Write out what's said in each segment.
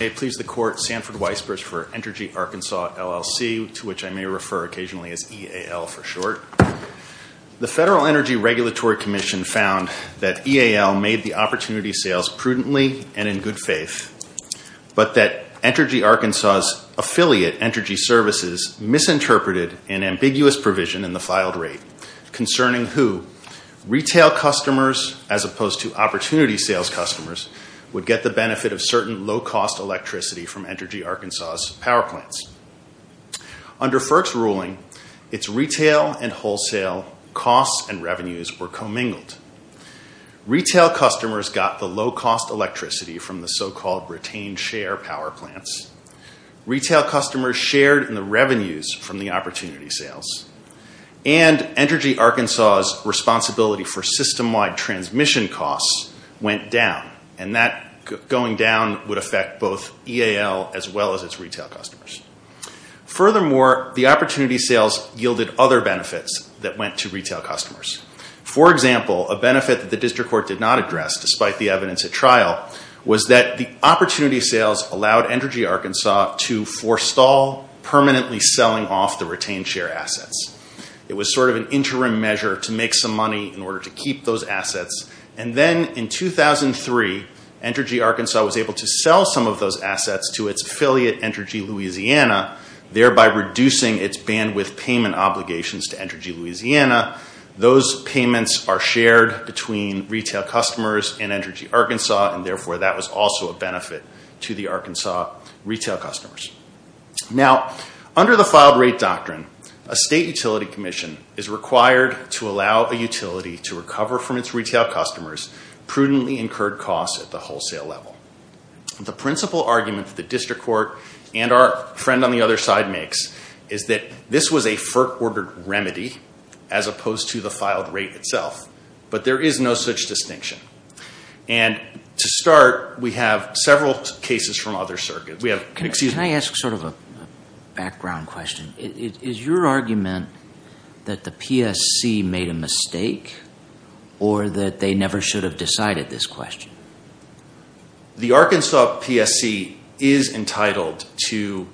May it please the Court, Sanford Weisbruch for Entergy Arkansas, LLC, to which I may refer occasionally as EAL for short. The Federal Energy Regulatory Commission found that EAL made the opportunity sales prudently and in good faith, but that Entergy Arkansas's affiliate, Entergy Services, misinterpreted an ambiguous provision in the filed rate concerning who, retail customers as opposed to opportunity sales customers would get the benefit of certain low-cost electricity from Entergy Arkansas's power plants. Under FERC's ruling, its retail and wholesale costs and revenues were commingled. Retail customers got the low-cost electricity from the so-called retained share power plants. Retail customers shared in the revenues from the opportunity sales. And Entergy Arkansas's responsibility for system-wide transmission costs went down, and that going down would affect both EAL as well as its retail customers. Furthermore, the opportunity sales yielded other benefits that went to retail customers. For example, a benefit that the district court did not address, despite the evidence at trial, was that the opportunity sales allowed Entergy Arkansas to forestall permanently selling off the retained share assets. It was sort of an interim measure to make some money in order to keep those assets. And then in 2003, Entergy Arkansas was able to sell some of those assets to its affiliate, Entergy Louisiana, thereby reducing its bandwidth payment obligations to Entergy Louisiana. Those payments are shared between retail customers and Entergy Arkansas, and therefore that was also a benefit to the Arkansas retail customers. Now, under the filed rate doctrine, a state utility commission is required to allow a utility to recover from its retail customers prudently incurred costs at the wholesale level. The principal argument that the district court and our friend on the other side makes is that this was a FERC-ordered remedy as opposed to the filed rate itself. But there is no such distinction. And to start, we have several cases from other circuits. Can I ask sort of a background question? Is your argument that the PSC made a mistake or that they never should have decided this question? The Arkansas PSC is entitled to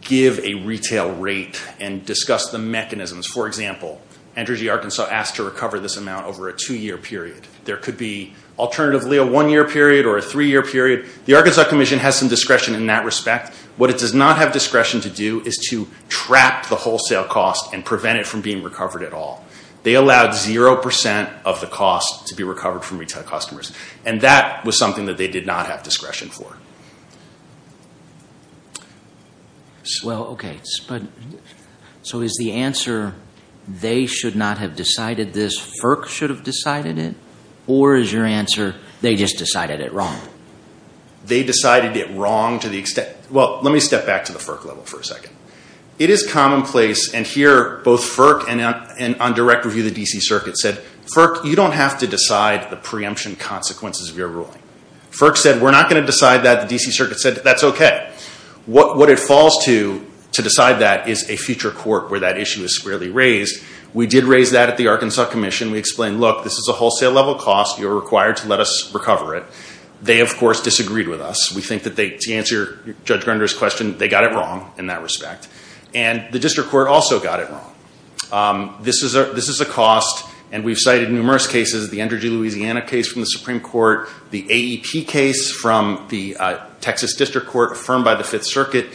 give a retail rate and discuss the mechanisms. For example, Entergy Arkansas asked to recover this amount over a two-year period. There could be alternatively a one-year period or a three-year period. The Arkansas commission has some discretion in that respect. What it does not have discretion to do is to trap the wholesale cost and prevent it from being recovered at all. They allowed 0% of the cost to be recovered from retail customers. And that was something that they did not have discretion for. Well, okay. So is the answer they should not have decided this, FERC should have decided it? Or is your answer they just decided it wrong? They decided it wrong to the extent, well, let me step back to the FERC level for a second. It is commonplace, and here both FERC and on direct review the DC circuit said, FERC, you don't have to decide the preemption consequences of your ruling. FERC said, we're not going to decide that. The DC circuit said, that's okay. What it falls to to decide that is a future court where that issue is squarely raised. We did raise that at the Arkansas commission. We explained, look, this is a wholesale level cost. You're required to let us recover it. They, of course, disagreed with us. We think that they, to answer Judge Grunder's question, they got it wrong in that respect. And the district court also got it wrong. This is a cost, and we've cited numerous cases, the Energy Louisiana case from the Supreme Court, the AEP case from the Texas District Court affirmed by the Fifth Circuit.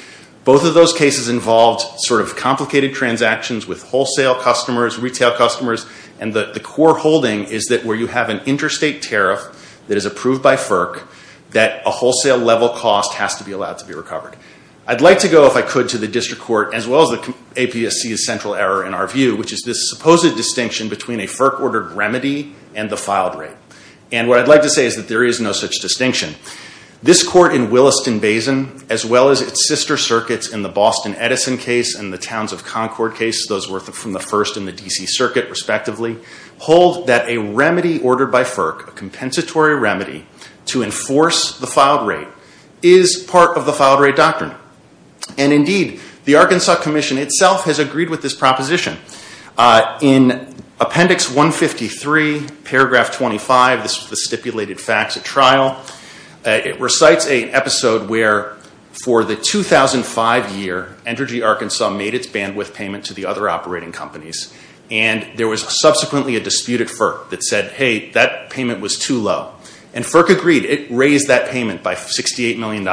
Both of those cases involved sort of complicated transactions with wholesale customers, retail customers, and the core holding is that where you have an interstate tariff that is approved by FERC, that a wholesale level cost has to be allowed to be recovered. I'd like to go, if I could, to the district court, as well as the APSC's central error in our view, which is this supposed distinction between a FERC-ordered remedy and the filed rate. And what I'd like to say is that there is no such distinction. This court in Williston-Basin, as well as its sister circuits in the Boston-Edison case and the Towns of Concord case, those were from the first in the DC circuit, respectively, hold that a remedy ordered by FERC, a compensatory remedy to enforce the filed rate, is part of the filed rate doctrine. And indeed, the Arkansas Commission itself has agreed with this proposition. In appendix 153, paragraph 25, this is the stipulated facts at trial, it recites an episode where for the 2005 year, Energy Arkansas made its bandwidth payment to the other operating companies. And there was subsequently a dispute at FERC that said, hey, that payment was too low. And FERC agreed. It raised that payment by $68 million.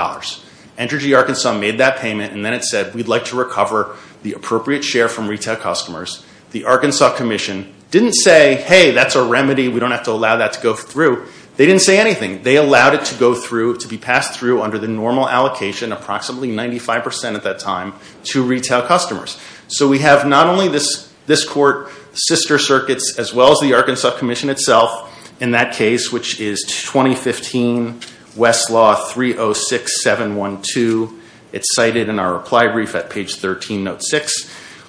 Energy Arkansas made that payment, and then it said, we'd like to recover the appropriate share from retail customers. The Arkansas Commission didn't say, hey, that's a remedy. We don't have to allow that to go through. They didn't say anything. They allowed it to go through, to be passed through under the normal allocation, approximately 95% at that time, to retail customers. So we have not only this court, sister circuits, as well as the Arkansas Commission itself in that case, which is 2015 Westlaw 306712. It's cited in our reply brief at page 13, note 6.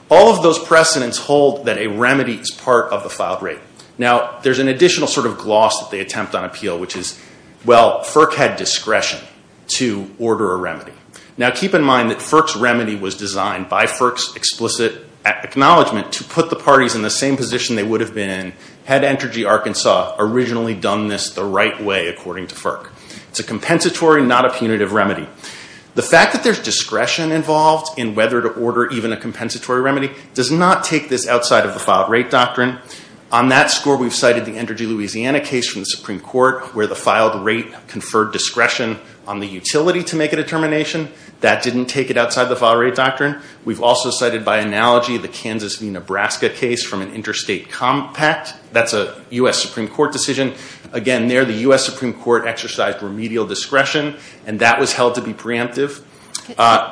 All of those precedents hold that a remedy is part of the filed rate. Now, there's an additional sort of gloss that they attempt on appeal, which is, well, FERC had discretion to order a remedy. Now, keep in mind that FERC's remedy was designed by FERC's explicit acknowledgment to put the parties in the same position they would have been had Energy Arkansas originally done this the right way, according to FERC. It's a compensatory, not a punitive remedy. The fact that there's discretion involved in whether to order even a compensatory remedy does not take this outside of the filed rate doctrine. On that score, we've cited the Energy Louisiana case from the Supreme Court, where the filed rate conferred discretion on the utility to make a determination. That didn't take it outside the filed rate doctrine. We've also cited by analogy the Kansas v. Nebraska case from an interstate compact. That's a U.S. Supreme Court decision. Again, there, the U.S. Supreme Court exercised remedial discretion, and that was held to be preemptive.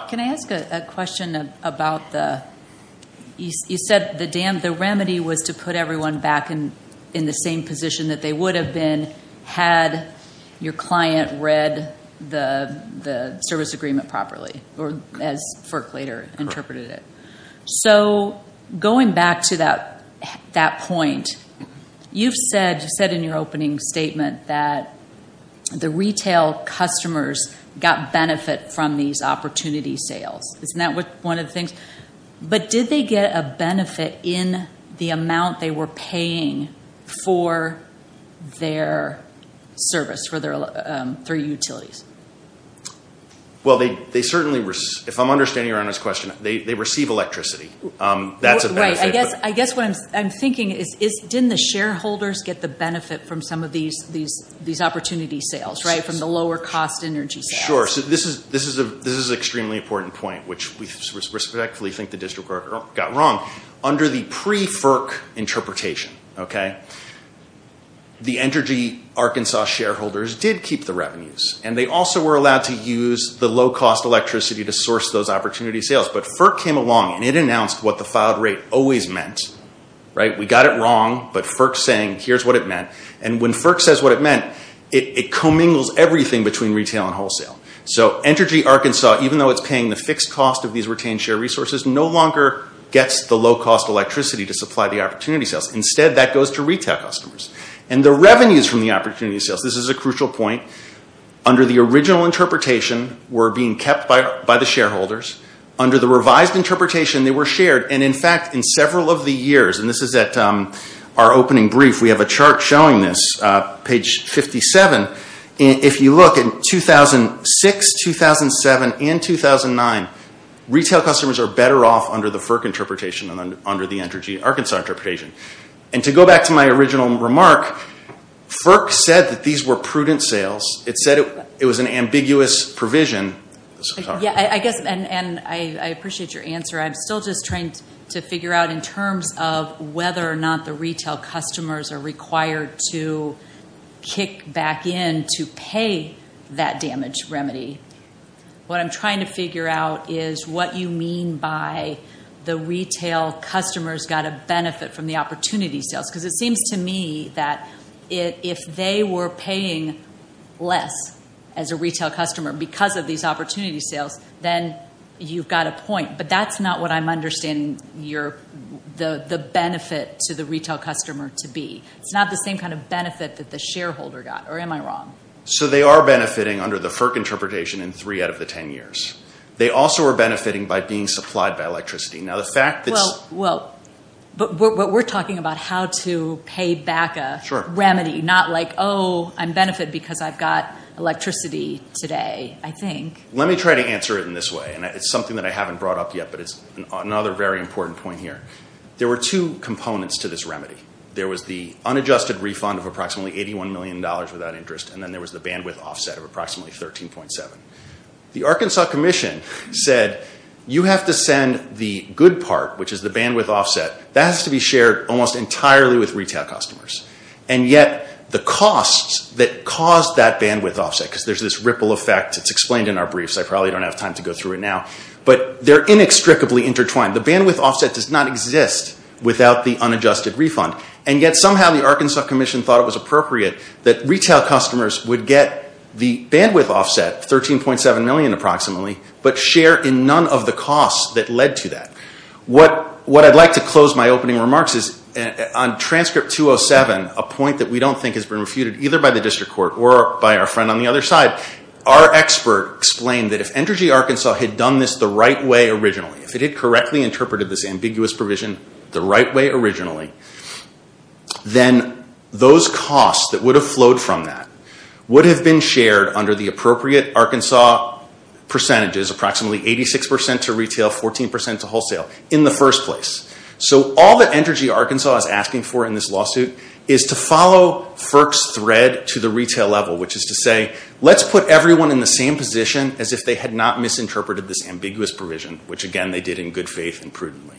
Can I ask a question about the, you said the remedy was to put everyone back in the same position that they would have been had your client read the service agreement properly, or as FERC later interpreted it. So, going back to that point, you've said in your opening statement that the retail customers got benefit from these opportunity sales. Isn't that one of the things? But did they get a benefit in the amount they were paying for their service, for their utilities? Well, they certainly, if I'm understanding Your Honor's question, they receive electricity. That's a benefit. I guess what I'm thinking is, didn't the shareholders get the benefit from some of these opportunity sales, right, from the lower cost energy sales? Sure. So, this is an extremely important point, which we respectfully think the district court got wrong. Under the pre-FERC interpretation, okay, the Energy Arkansas shareholders did keep the revenues, and they also were allowed to use the low-cost electricity to source those opportunity sales. But FERC came along, and it announced what the filed rate always meant, right? We got it wrong, but FERC's saying, here's what it meant. And when FERC says what it meant, it commingles everything between retail and wholesale. So, Energy Arkansas, even though it's paying the fixed cost of these retained share resources, no longer gets the low-cost electricity to supply the opportunity sales. Instead, that goes to retail customers. And the revenues from the opportunity sales, this is a crucial point, under the original interpretation were being kept by the shareholders. Under the revised interpretation, they were shared. And in fact, in several of the years, and this is at our opening brief, we have a chart showing this, page 57. If you look in 2006, 2007, and 2009, retail customers are better off under the FERC interpretation than under the Energy Arkansas interpretation. And to go back to my original remark, FERC said that these were prudent sales. It said it was an ambiguous provision. Yeah, I guess, and I appreciate your answer. I'm still just trying to figure out in terms of whether or not the retail customers are required to kick back in to pay that damage remedy. What I'm trying to figure out is what you mean by the retail customers got a benefit from the opportunity sales. Because it seems to me that if they were paying less as a retail customer because of these opportunity sales, then you've got a point. But that's not what I'm understanding the benefit to the retail customer to be. It's not the same kind of benefit that the shareholder got. Or am I wrong? So they are benefiting under the FERC interpretation in three out of the ten years. They also are benefiting by being supplied by electricity. Now the fact that's. Well, but we're talking about how to pay back a remedy, not like, oh, I'm benefited because I've got electricity today, I think. Let me try to answer it in this way. And it's something that I haven't brought up yet, but it's another very important point here. There were two components to this remedy. There was the unadjusted refund of approximately $81 million without interest. And then there was the bandwidth offset of approximately 13.7. The Arkansas Commission said you have to send the good part, which is the bandwidth offset. That has to be shared almost entirely with retail customers. And yet the costs that caused that bandwidth offset, because there's this ripple effect. It's explained in our briefs. I probably don't have time to go through it now. But they're inextricably intertwined. The bandwidth offset does not exist without the unadjusted refund. And yet somehow the Arkansas Commission thought it was appropriate that retail customers would get the bandwidth offset, 13.7 million approximately, but share in none of the costs that led to that. What I'd like to close my opening remarks is on transcript 207, a point that we don't think has been refuted either by the district court or by our friend on the other side, our expert explained that if Energy Arkansas had done this the right way originally, if it had correctly interpreted this ambiguous provision the right way originally, then those costs that would have flowed from that would have been shared under the appropriate Arkansas percentages, approximately 86% to retail, 14% to wholesale in the first place. So all that Energy Arkansas is asking for in this lawsuit is to follow FERC's thread to the retail level, which is to say, let's put everyone in the same position as if they had not misinterpreted this ambiguous provision, which again they did in good faith and prudently.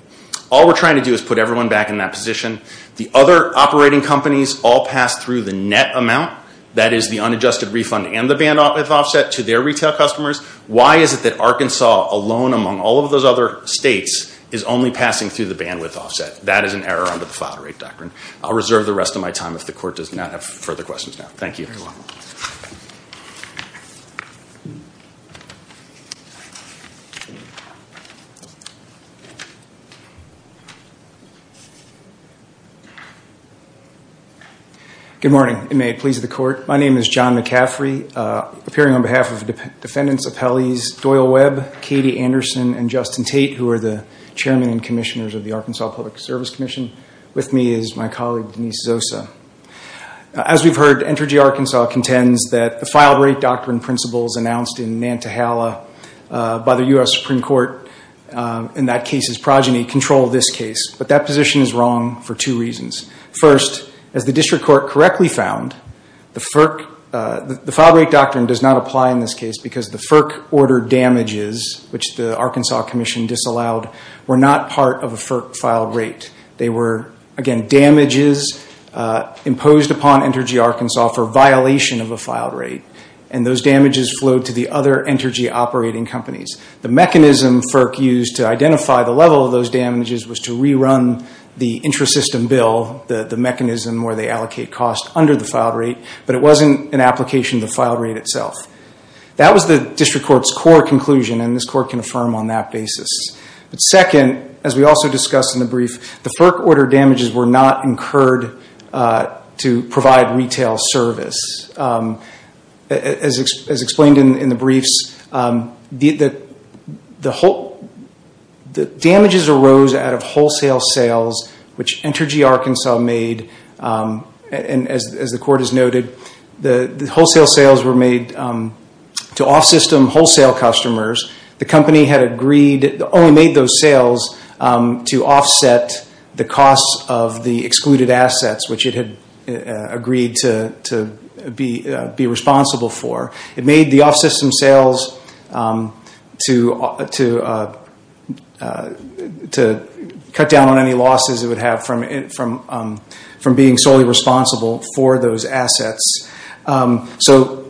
All we're trying to do is put everyone back in that position. The other operating companies all passed through the net amount, that is the unadjusted refund and the bandwidth offset to their retail customers. Why is it that Arkansas alone among all of those other states is only passing through the bandwidth offset? That is an error under the file rate doctrine. I'll reserve the rest of my time if the court does not have further questions now. Thank you. You're very welcome. Good morning. May it please the court. My name is John McCaffrey, appearing on behalf of Defendants Appellees Doyle Webb, Katie Anderson, and Justin Tate, who are the Chairman and Commissioners of the Arkansas Public Service Commission. With me is my colleague Denise Zosa. As we've heard, Entergy Arkansas contends that the file rate doctrine principles announced in Nantahala by the U.S. Supreme Court in that case's progeny control this case. But that position is wrong for two reasons. First, as the District Court correctly found, the file rate doctrine does not apply in this case because the FERC order damages, which the Arkansas Commission disallowed, were not part of a FERC file rate. They were, again, damages imposed upon Entergy Arkansas for violation of a file rate, and those damages flowed to the other Entergy operating companies. The mechanism FERC used to identify the level of those damages was to rerun the intrasystem bill, the mechanism where they allocate costs under the file rate, but it wasn't an application of the file rate itself. That was the District Court's core conclusion, and this Court can affirm on that basis. Second, as we also discussed in the brief, the FERC order damages were not incurred to provide retail service. As explained in the briefs, the damages arose out of wholesale sales, which Entergy Arkansas made, and as the Court has noted, the wholesale sales were made to off-system wholesale customers. The company had agreed, only made those sales to offset the costs of the excluded assets, which it had agreed to be responsible for. It made the off-system sales to cut down on any losses it would have from being solely responsible for those assets. So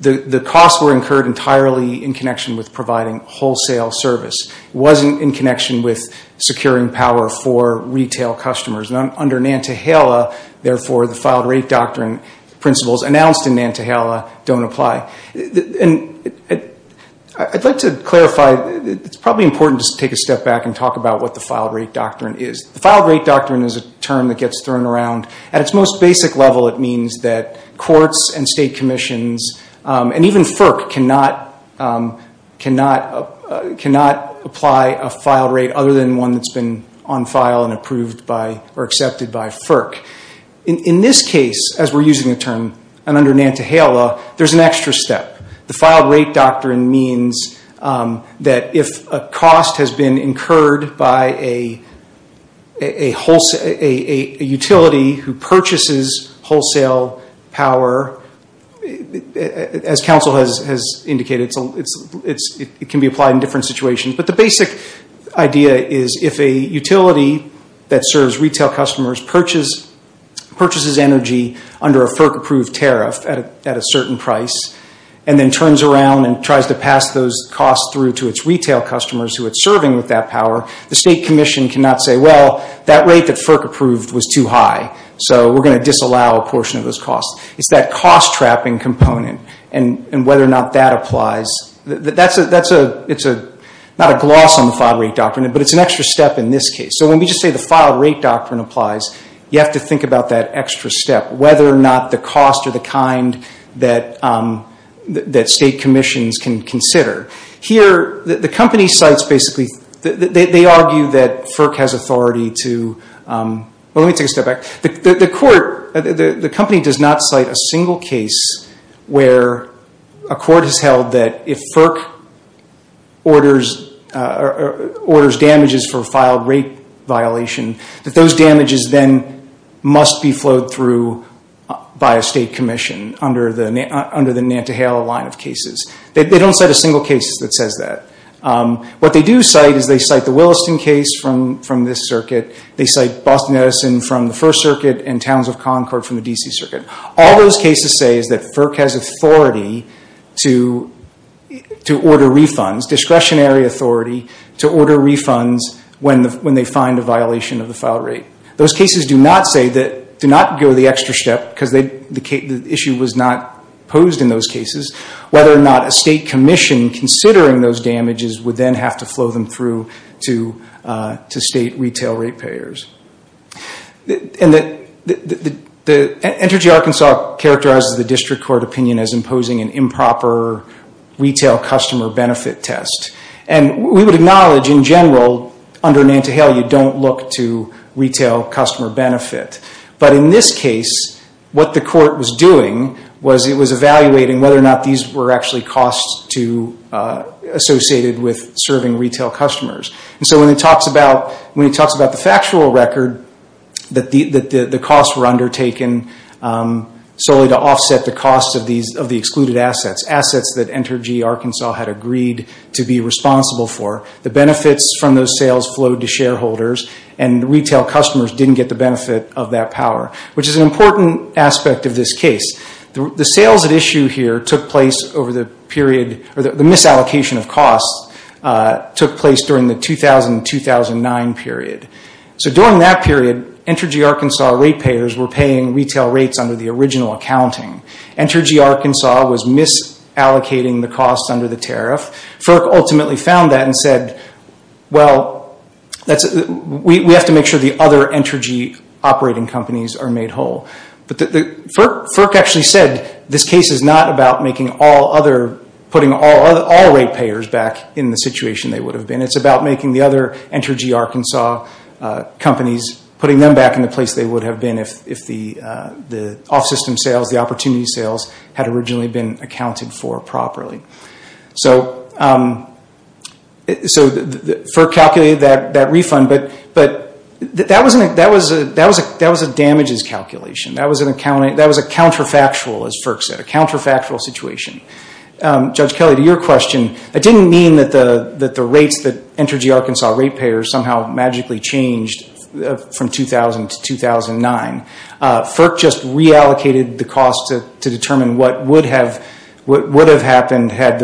the costs were incurred entirely in connection with providing wholesale service. It wasn't in connection with securing power for retail customers. Under Nantahala, therefore, the file rate doctrine principles announced in Nantahala don't apply. I'd like to clarify, it's probably important to take a step back and talk about what the file rate doctrine is. The file rate doctrine is a term that gets thrown around. At its most basic level, it means that courts and state commissions, and even FERC, cannot apply a file rate other than one that's been on file and approved by or accepted by FERC. In this case, as we're using the term, and under Nantahala, there's an extra step. The file rate doctrine means that if a cost has been incurred by a utility who purchases wholesale power, as counsel has indicated, it can be applied in different situations. But the basic idea is if a utility that serves retail customers purchases energy under a FERC-approved tariff at a certain price, and then turns around and tries to pass those costs through to its retail customers who it's serving with that power, the state commission cannot say, well, that rate that FERC approved was too high, so we're going to disallow a portion of those costs. It's that cost-trapping component, and whether or not that applies. It's not a gloss on the file rate doctrine, but it's an extra step in this case. So when we just say the file rate doctrine applies, you have to think about that extra step. Whether or not the cost are the kind that state commissions can consider. Here, the company cites basically, they argue that FERC has authority to, well let me take a step back, the court, the company does not cite a single case where a court has held that if FERC orders damages for a file rate violation, that those damages then must be flowed through by a state commission under the Nantahala line of cases. They don't cite a single case that says that. What they do cite is they cite the Williston case from this circuit. They cite Boston Edison from the First Circuit, and Towns of Concord from the D.C. Circuit. All those cases say is that FERC has authority to order refunds, discretionary authority to order refunds when they find a violation of the file rate. Those cases do not say that, do not go the extra step, because the issue was not posed in those cases, whether or not a state commission considering those damages would then have to flow them through to state retail rate payers. Entergy Arkansas characterizes the district court opinion as imposing an improper retail customer benefit test. We would acknowledge, in general, under Nantahala, you don't look to retail customer benefit. But in this case, what the court was doing was it was evaluating whether or not these were actually costs associated with serving retail customers. So when it talks about the factual record, that the costs were undertaken solely to offset the costs of the excluded assets, assets that Entergy Arkansas had agreed to be responsible for, the benefits from those sales flowed to shareholders and retail customers didn't get the benefit of that power, which is an important aspect of this case. The sales at issue here took place over the period, or the misallocation of costs took place during the 2000-2009 period. So during that period, Entergy Arkansas rate payers were paying retail rates under the original accounting. Entergy Arkansas was misallocating the costs under the tariff. FERC ultimately found that and said, well, we have to make sure the other Entergy operating companies are made whole. But FERC actually said this case is not about making all other, putting all rate payers back in the situation they would have been. It's about making the other Entergy Arkansas companies, putting them back in the place they would have been if the off-system sales, the opportunity sales had originally been accounted for properly. So FERC calculated that refund, but that was a damages calculation. That was a counterfactual, as FERC said, a counterfactual situation. Judge Kelly, to your question, I didn't mean that the rates that Entergy Arkansas rate payers somehow magically changed from 2000 to 2009. FERC just reallocated the costs to determine what would have happened had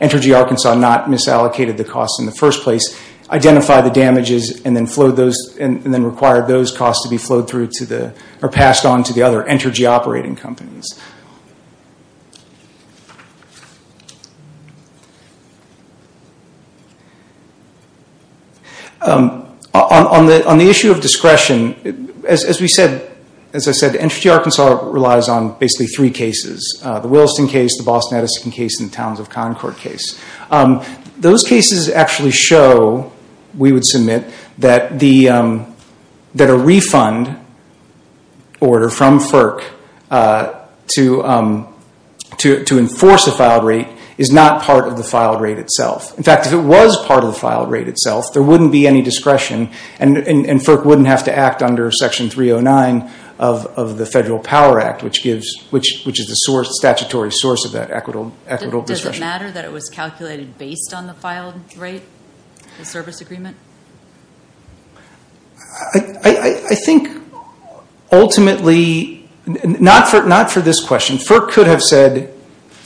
Entergy Arkansas not misallocated the costs in the first place, identified the damages, and then required those costs to be flowed through to the, or passed on to the other Entergy operating companies. On the issue of discretion, as we said, as I said, Entergy Arkansas relies on basically three cases. The Williston case, the Boston Edison case, and the Towns of Concord case. Those cases actually show, we would submit, that a refund order from FERC to enforce a filed rate is not part of the filed rate itself. In fact, if it was part of the filed rate itself, there wouldn't be any discretion, and FERC wouldn't have to act under Section 309 of the Federal Power Act, which is the statutory source of that equitable discretion. Does it matter that it was calculated based on the filed rate, the service agreement? I think ultimately, not for this question, FERC could have said,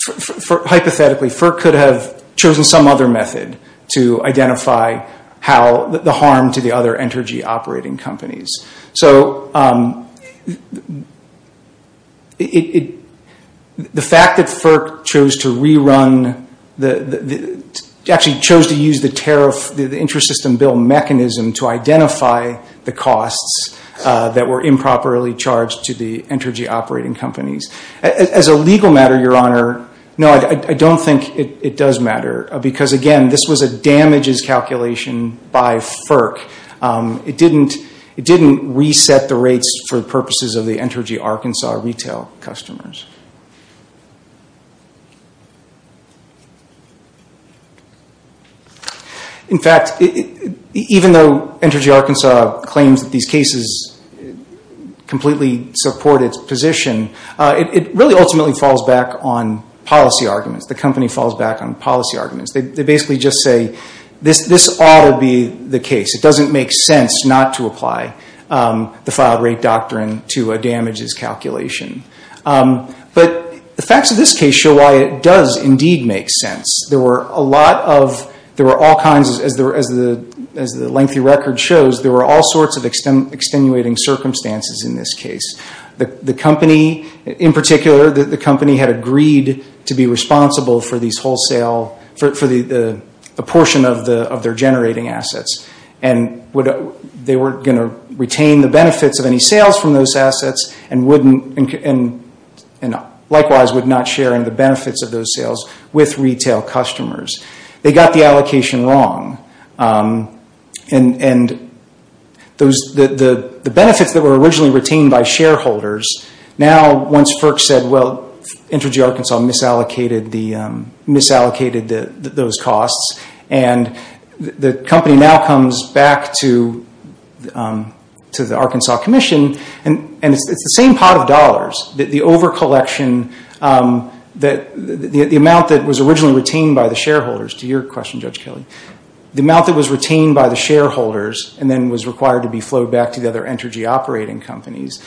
hypothetically, FERC could have chosen some other method to identify how, the harm to the other Entergy operating companies. So, the fact that FERC chose to rerun, actually chose to use the tariff, the interest system bill mechanism to identify the costs that were improperly charged to the Entergy operating companies. As a legal matter, Your Honor, no, I don't think it does matter, because again, this was a damages calculation by FERC. It didn't reset the rates for purposes of the Entergy Arkansas retail customers. In fact, even though Entergy Arkansas claims that these cases completely support its position, it really ultimately falls back on policy arguments. The company falls back on policy arguments. They basically just say, this ought to be the case. It doesn't make sense not to apply the filed rate doctrine to a damages calculation. But the facts of this case show why it does indeed make sense. There were a lot of, there were all kinds, as the lengthy record shows, there were all sorts of extenuating circumstances in this case. The company, in particular, the company had agreed to be responsible for these wholesale, for the portion of their generating assets. And they were going to retain the benefits of any sales from those assets, and likewise would not share in the benefits of those sales with retail customers. They got the allocation wrong. And the benefits that were originally retained by shareholders, now once FERC said, well, Entergy Arkansas misallocated those costs, and the company now comes back to the Arkansas Commission, and it's the same pot of dollars. The overcollection, the amount that was originally retained by the shareholders, to your question, Judge Kelly, the amount that was retained by the shareholders, and then was required to be flowed back to the other Entergy operating companies.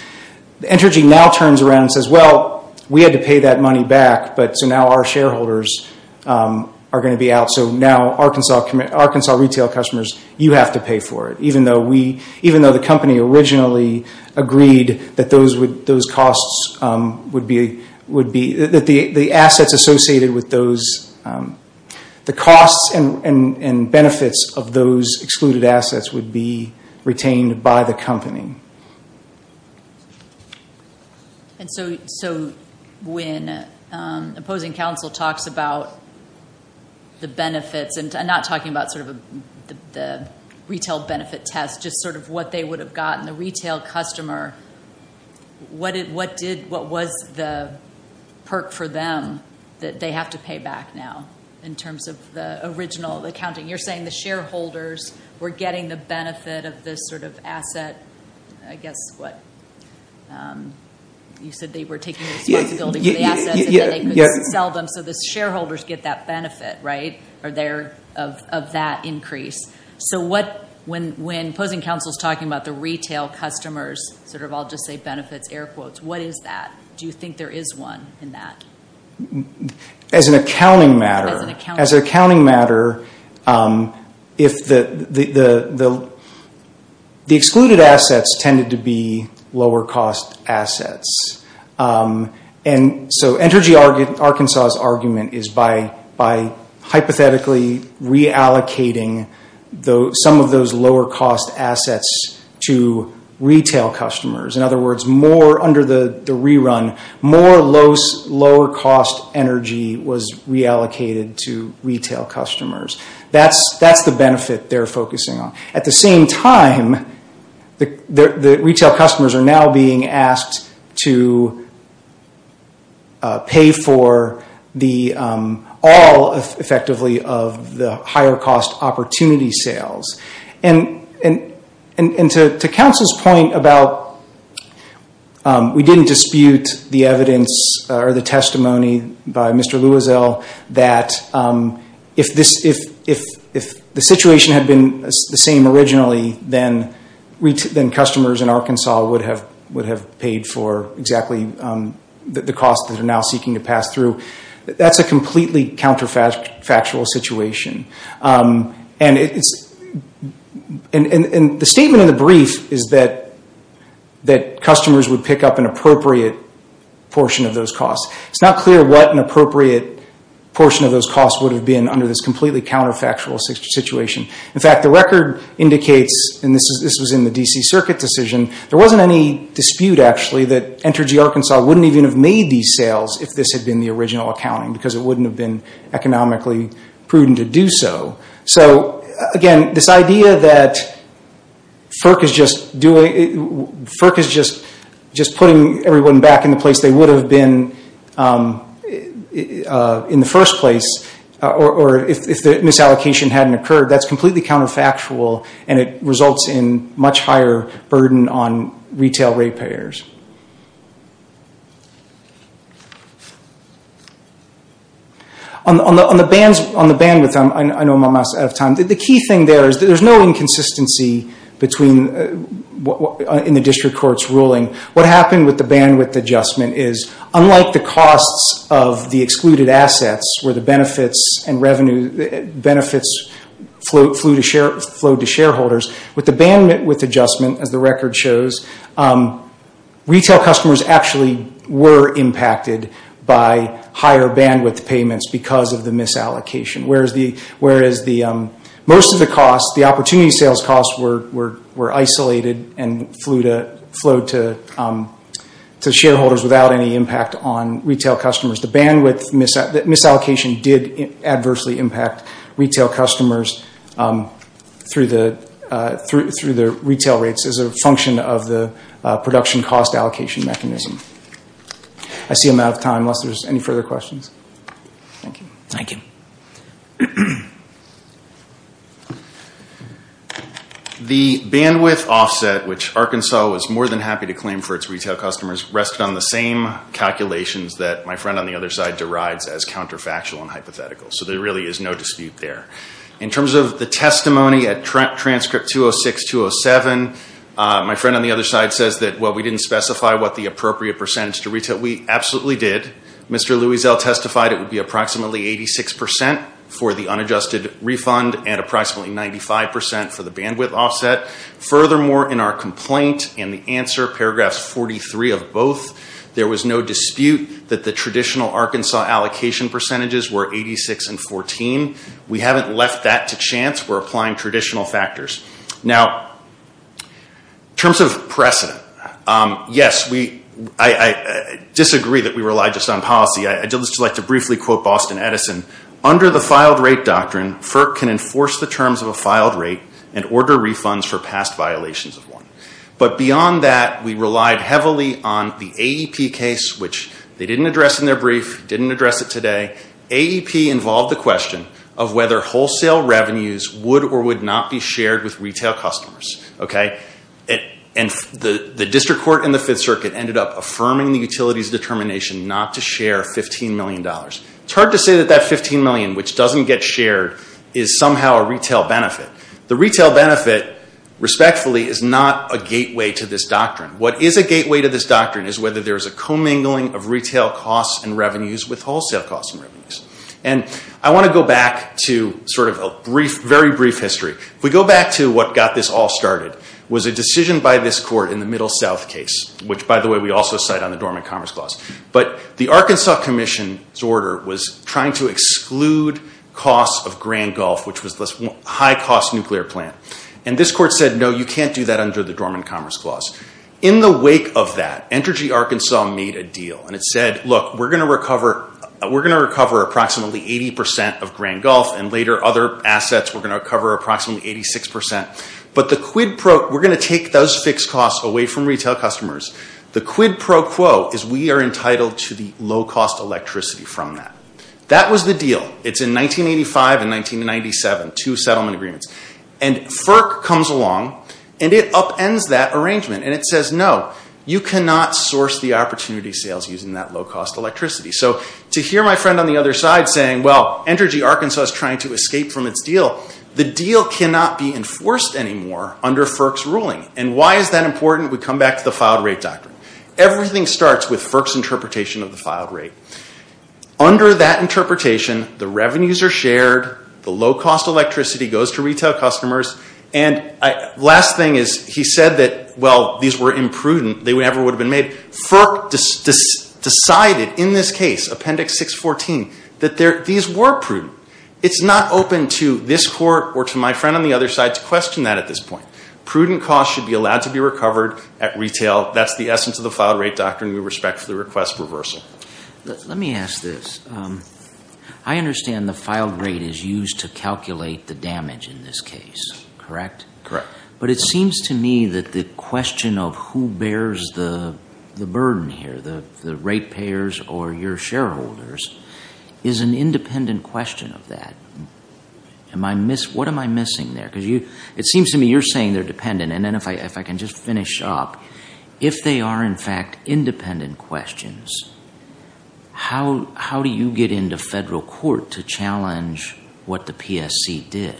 Entergy now turns around and says, well, we had to pay that money back, but so now our shareholders are going to be out. So now Arkansas retail customers, you have to pay for it. Even though we, even though the company originally agreed that those costs would be, would be, that the assets associated with those, the costs and benefits of those excluded assets would be retained by the company. And so, so when opposing counsel talks about the benefits, and I'm not talking about sort of the retail benefit test, just sort of what they would have gotten, the retail customer, what did, what did, what was the perk for them that they have to pay back now, in terms of the original accounting? You're saying the shareholders were getting the benefit of this sort of asset, I guess what, you said they were taking responsibility for the assets and then they could sell them so the shareholders get that benefit, right, of their, of that increase. So what, when opposing counsel is talking about the retail customers, sort of I'll just say benefits, air quotes, what is that? Do you think there is one in that? As an accounting matter, as an accounting matter, if the, the, the excluded assets tended to be lower cost assets. And so Entergy Arkansas' argument is by, by hypothetically reallocating some of those lower cost assets to retail customers. In other words, more under the rerun, more low, lower cost energy was reallocated to retail customers. That's, that's the benefit they're focusing on. At the same time, the, the retail customers are now being asked to pay for the all effectively of the higher cost opportunity sales. And, and, and to, to counsel's point about, we didn't dispute the evidence or the testimony by Mr. Louisel that if this, if, if, if the situation had been the same originally, then customers in Arkansas would have, would have paid for exactly the cost that they're now seeking to pass through. That's a completely counterfactual situation. And it's, and, and, and the statement of the brief is that, that customers would pick up an appropriate portion of those costs. It's not clear what an appropriate portion of those costs would have been under this completely counterfactual situation. In fact, the record indicates, and this is, this was in the DC circuit decision, there wasn't any dispute actually that Entergy Arkansas wouldn't even have made these sales if this had been the original accounting. Because it wouldn't have been economically prudent to do so. So again, this idea that FERC is just doing, FERC is just, just putting everyone back in the place they would have been in the first place. Or, or if, if the misallocation hadn't occurred, that's completely counterfactual. And it results in much higher burden on retail rate payers. On the, on the bands, on the bandwidth, I'm, I know I'm almost out of time. The key thing there is that there's no inconsistency between in the district court's ruling. What happened with the bandwidth adjustment is unlike the costs of the excluded assets where the benefits and revenue, benefits flowed to share, flowed to shareholders. With the bandwidth adjustment, as the record shows, retail customers actually were impacted by higher bandwidth payments because of the misallocation. Whereas the, whereas the, most of the costs, the opportunity sales costs were, were, were isolated and flew to, flowed to, to shareholders without any impact on retail customers. The bandwidth misallocation did adversely impact retail customers through the, through the retail rates as a function of the production cost allocation mechanism. I see I'm out of time unless there's any further questions. Thank you. Thank you. The bandwidth offset, which Arkansas was more than happy to claim for its retail customers, rested on the same calculations that my friend on the other side derides as counterfactual and hypothetical. So there really is no dispute there. In terms of the testimony at transcript 206, 207, my friend on the other side says that, well, we didn't specify what the appropriate percentage to retail. We absolutely did. Mr. Louisel testified it would be approximately 86% for the unadjusted refund and approximately 95% for the bandwidth offset. Furthermore, in our complaint and the answer, paragraphs 43 of both, there was no dispute that the traditional Arkansas allocation percentages were 86 and 14. We haven't left that to chance. We're applying traditional factors. Now, in terms of precedent, yes, I disagree that we rely just on policy. I'd just like to briefly quote Boston Edison. Under the filed rate doctrine, FERC can enforce the terms of a filed rate and order refunds for past violations of one. But beyond that, we relied heavily on the AEP case, which they didn't address in their brief, didn't address it today. AEP involved the question of whether wholesale revenues would or would not be shared with retail customers, okay? And the district court in the Fifth Circuit ended up affirming the utility's determination not to share $15 million. It's hard to say that that $15 million, which doesn't get shared, is somehow a retail benefit. The retail benefit, respectfully, is not a gateway to this doctrine. What is a gateway to this doctrine is whether there is a commingling of retail costs and revenues with wholesale costs and revenues. And I want to go back to sort of a brief, very brief history. If we go back to what got this all started, it was a decision by this court in the Middle South case, which, by the way, we also cite on the Dormant Commerce Clause. But the Arkansas Commission's order was trying to exclude costs of Grand Gulf, which was a high-cost nuclear plant. And this court said, no, you can't do that under the Dormant Commerce Clause. In the wake of that, Entergy Arkansas made a deal. And it said, look, we're going to recover approximately 80% of Grand Gulf, and later other assets, we're going to recover approximately 86%. But the quid pro, we're going to take those fixed costs away from retail customers. The quid pro quo is we are entitled to the low-cost electricity from that. That was the deal. It's in 1985 and 1997, two settlement agreements. And FERC comes along, and it upends that arrangement. And it says, no, you cannot source the opportunity sales using that low-cost electricity. So to hear my friend on the other side saying, well, Entergy Arkansas is trying to escape from its deal. The deal cannot be enforced anymore under FERC's ruling. And why is that important? We come back to the filed rate doctrine. Everything starts with FERC's interpretation of the filed rate. Under that interpretation, the revenues are shared. The low-cost electricity goes to retail customers. And last thing is he said that, well, these were imprudent. They never would have been made. FERC decided in this case, Appendix 614, that these were prudent. It's not open to this court or to my friend on the other side to question that at this point. Prudent costs should be allowed to be recovered at retail. That's the essence of the filed rate doctrine. We respectfully request reversal. Let me ask this. I understand the filed rate is used to calculate the damage in this case, correct? Correct. But it seems to me that the question of who bears the burden here, the rate payers or your shareholders, is an independent question of that. What am I missing there? Because it seems to me you're saying they're dependent. And then if I can just finish up, if they are, in fact, independent questions, how do you get into federal court to challenge what the PSC did?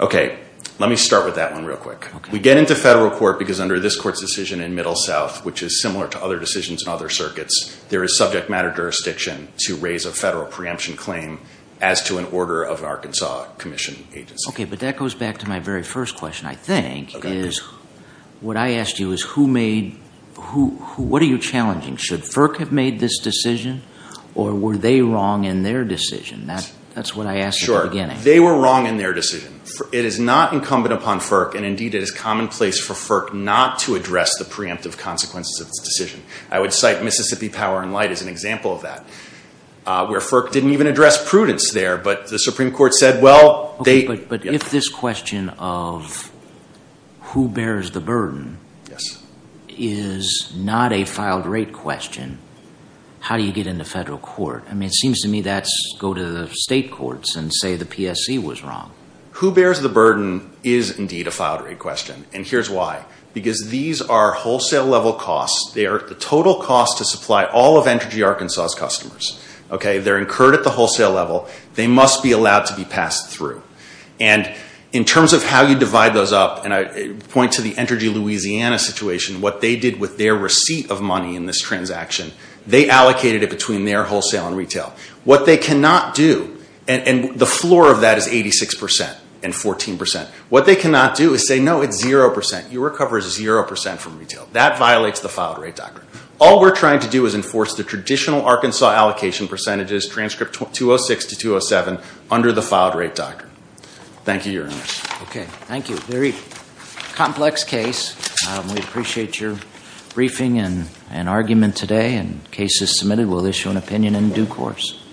Okay. Let me start with that one real quick. We get into federal court because under this court's decision in Middle South, which is similar to other decisions in other circuits, there is subject matter jurisdiction to raise a federal preemption claim as to an order of Arkansas Commission agency. Okay. But that goes back to my very first question, I think, is what I asked you is who made, what are you challenging? Should FERC have made this decision? Or were they wrong in their decision? That's what I asked in the beginning. Sure. They were wrong in their decision. It is not incumbent upon FERC, and indeed it is commonplace for FERC not to address the preemptive consequences of this decision. I would cite Mississippi Power and Light as an example of that, where FERC didn't even address prudence there. But the Supreme Court said, well, they... But if this question of who bears the burden is not a filed rate question, how do you get into federal court? I mean, it seems to me that's go to the state courts and say the PSC was wrong. Who bears the burden is indeed a filed rate question. And here's why. Because these are wholesale level costs. They are the total cost to supply all of Entergy Arkansas's customers. Okay. They're incurred at the wholesale level. They must be allowed to be passed through. And in terms of how you divide those up, and I point to the Entergy Louisiana situation, what they did with their receipt of money in this transaction, they allocated it between their wholesale and retail. What they cannot do, and the floor of that is 86% and 14%, what they cannot do is say, no, it's 0%. You recover 0% from retail. That violates the filed rate doctrine. All we're trying to do is enforce the traditional Arkansas allocation percentages, transcript 206 to 207, under the filed rate doctrine. Thank you, Your Honor. Okay. Thank you. Very complex case. We appreciate your briefing and argument today and cases submitted. We will issue an opinion in due course.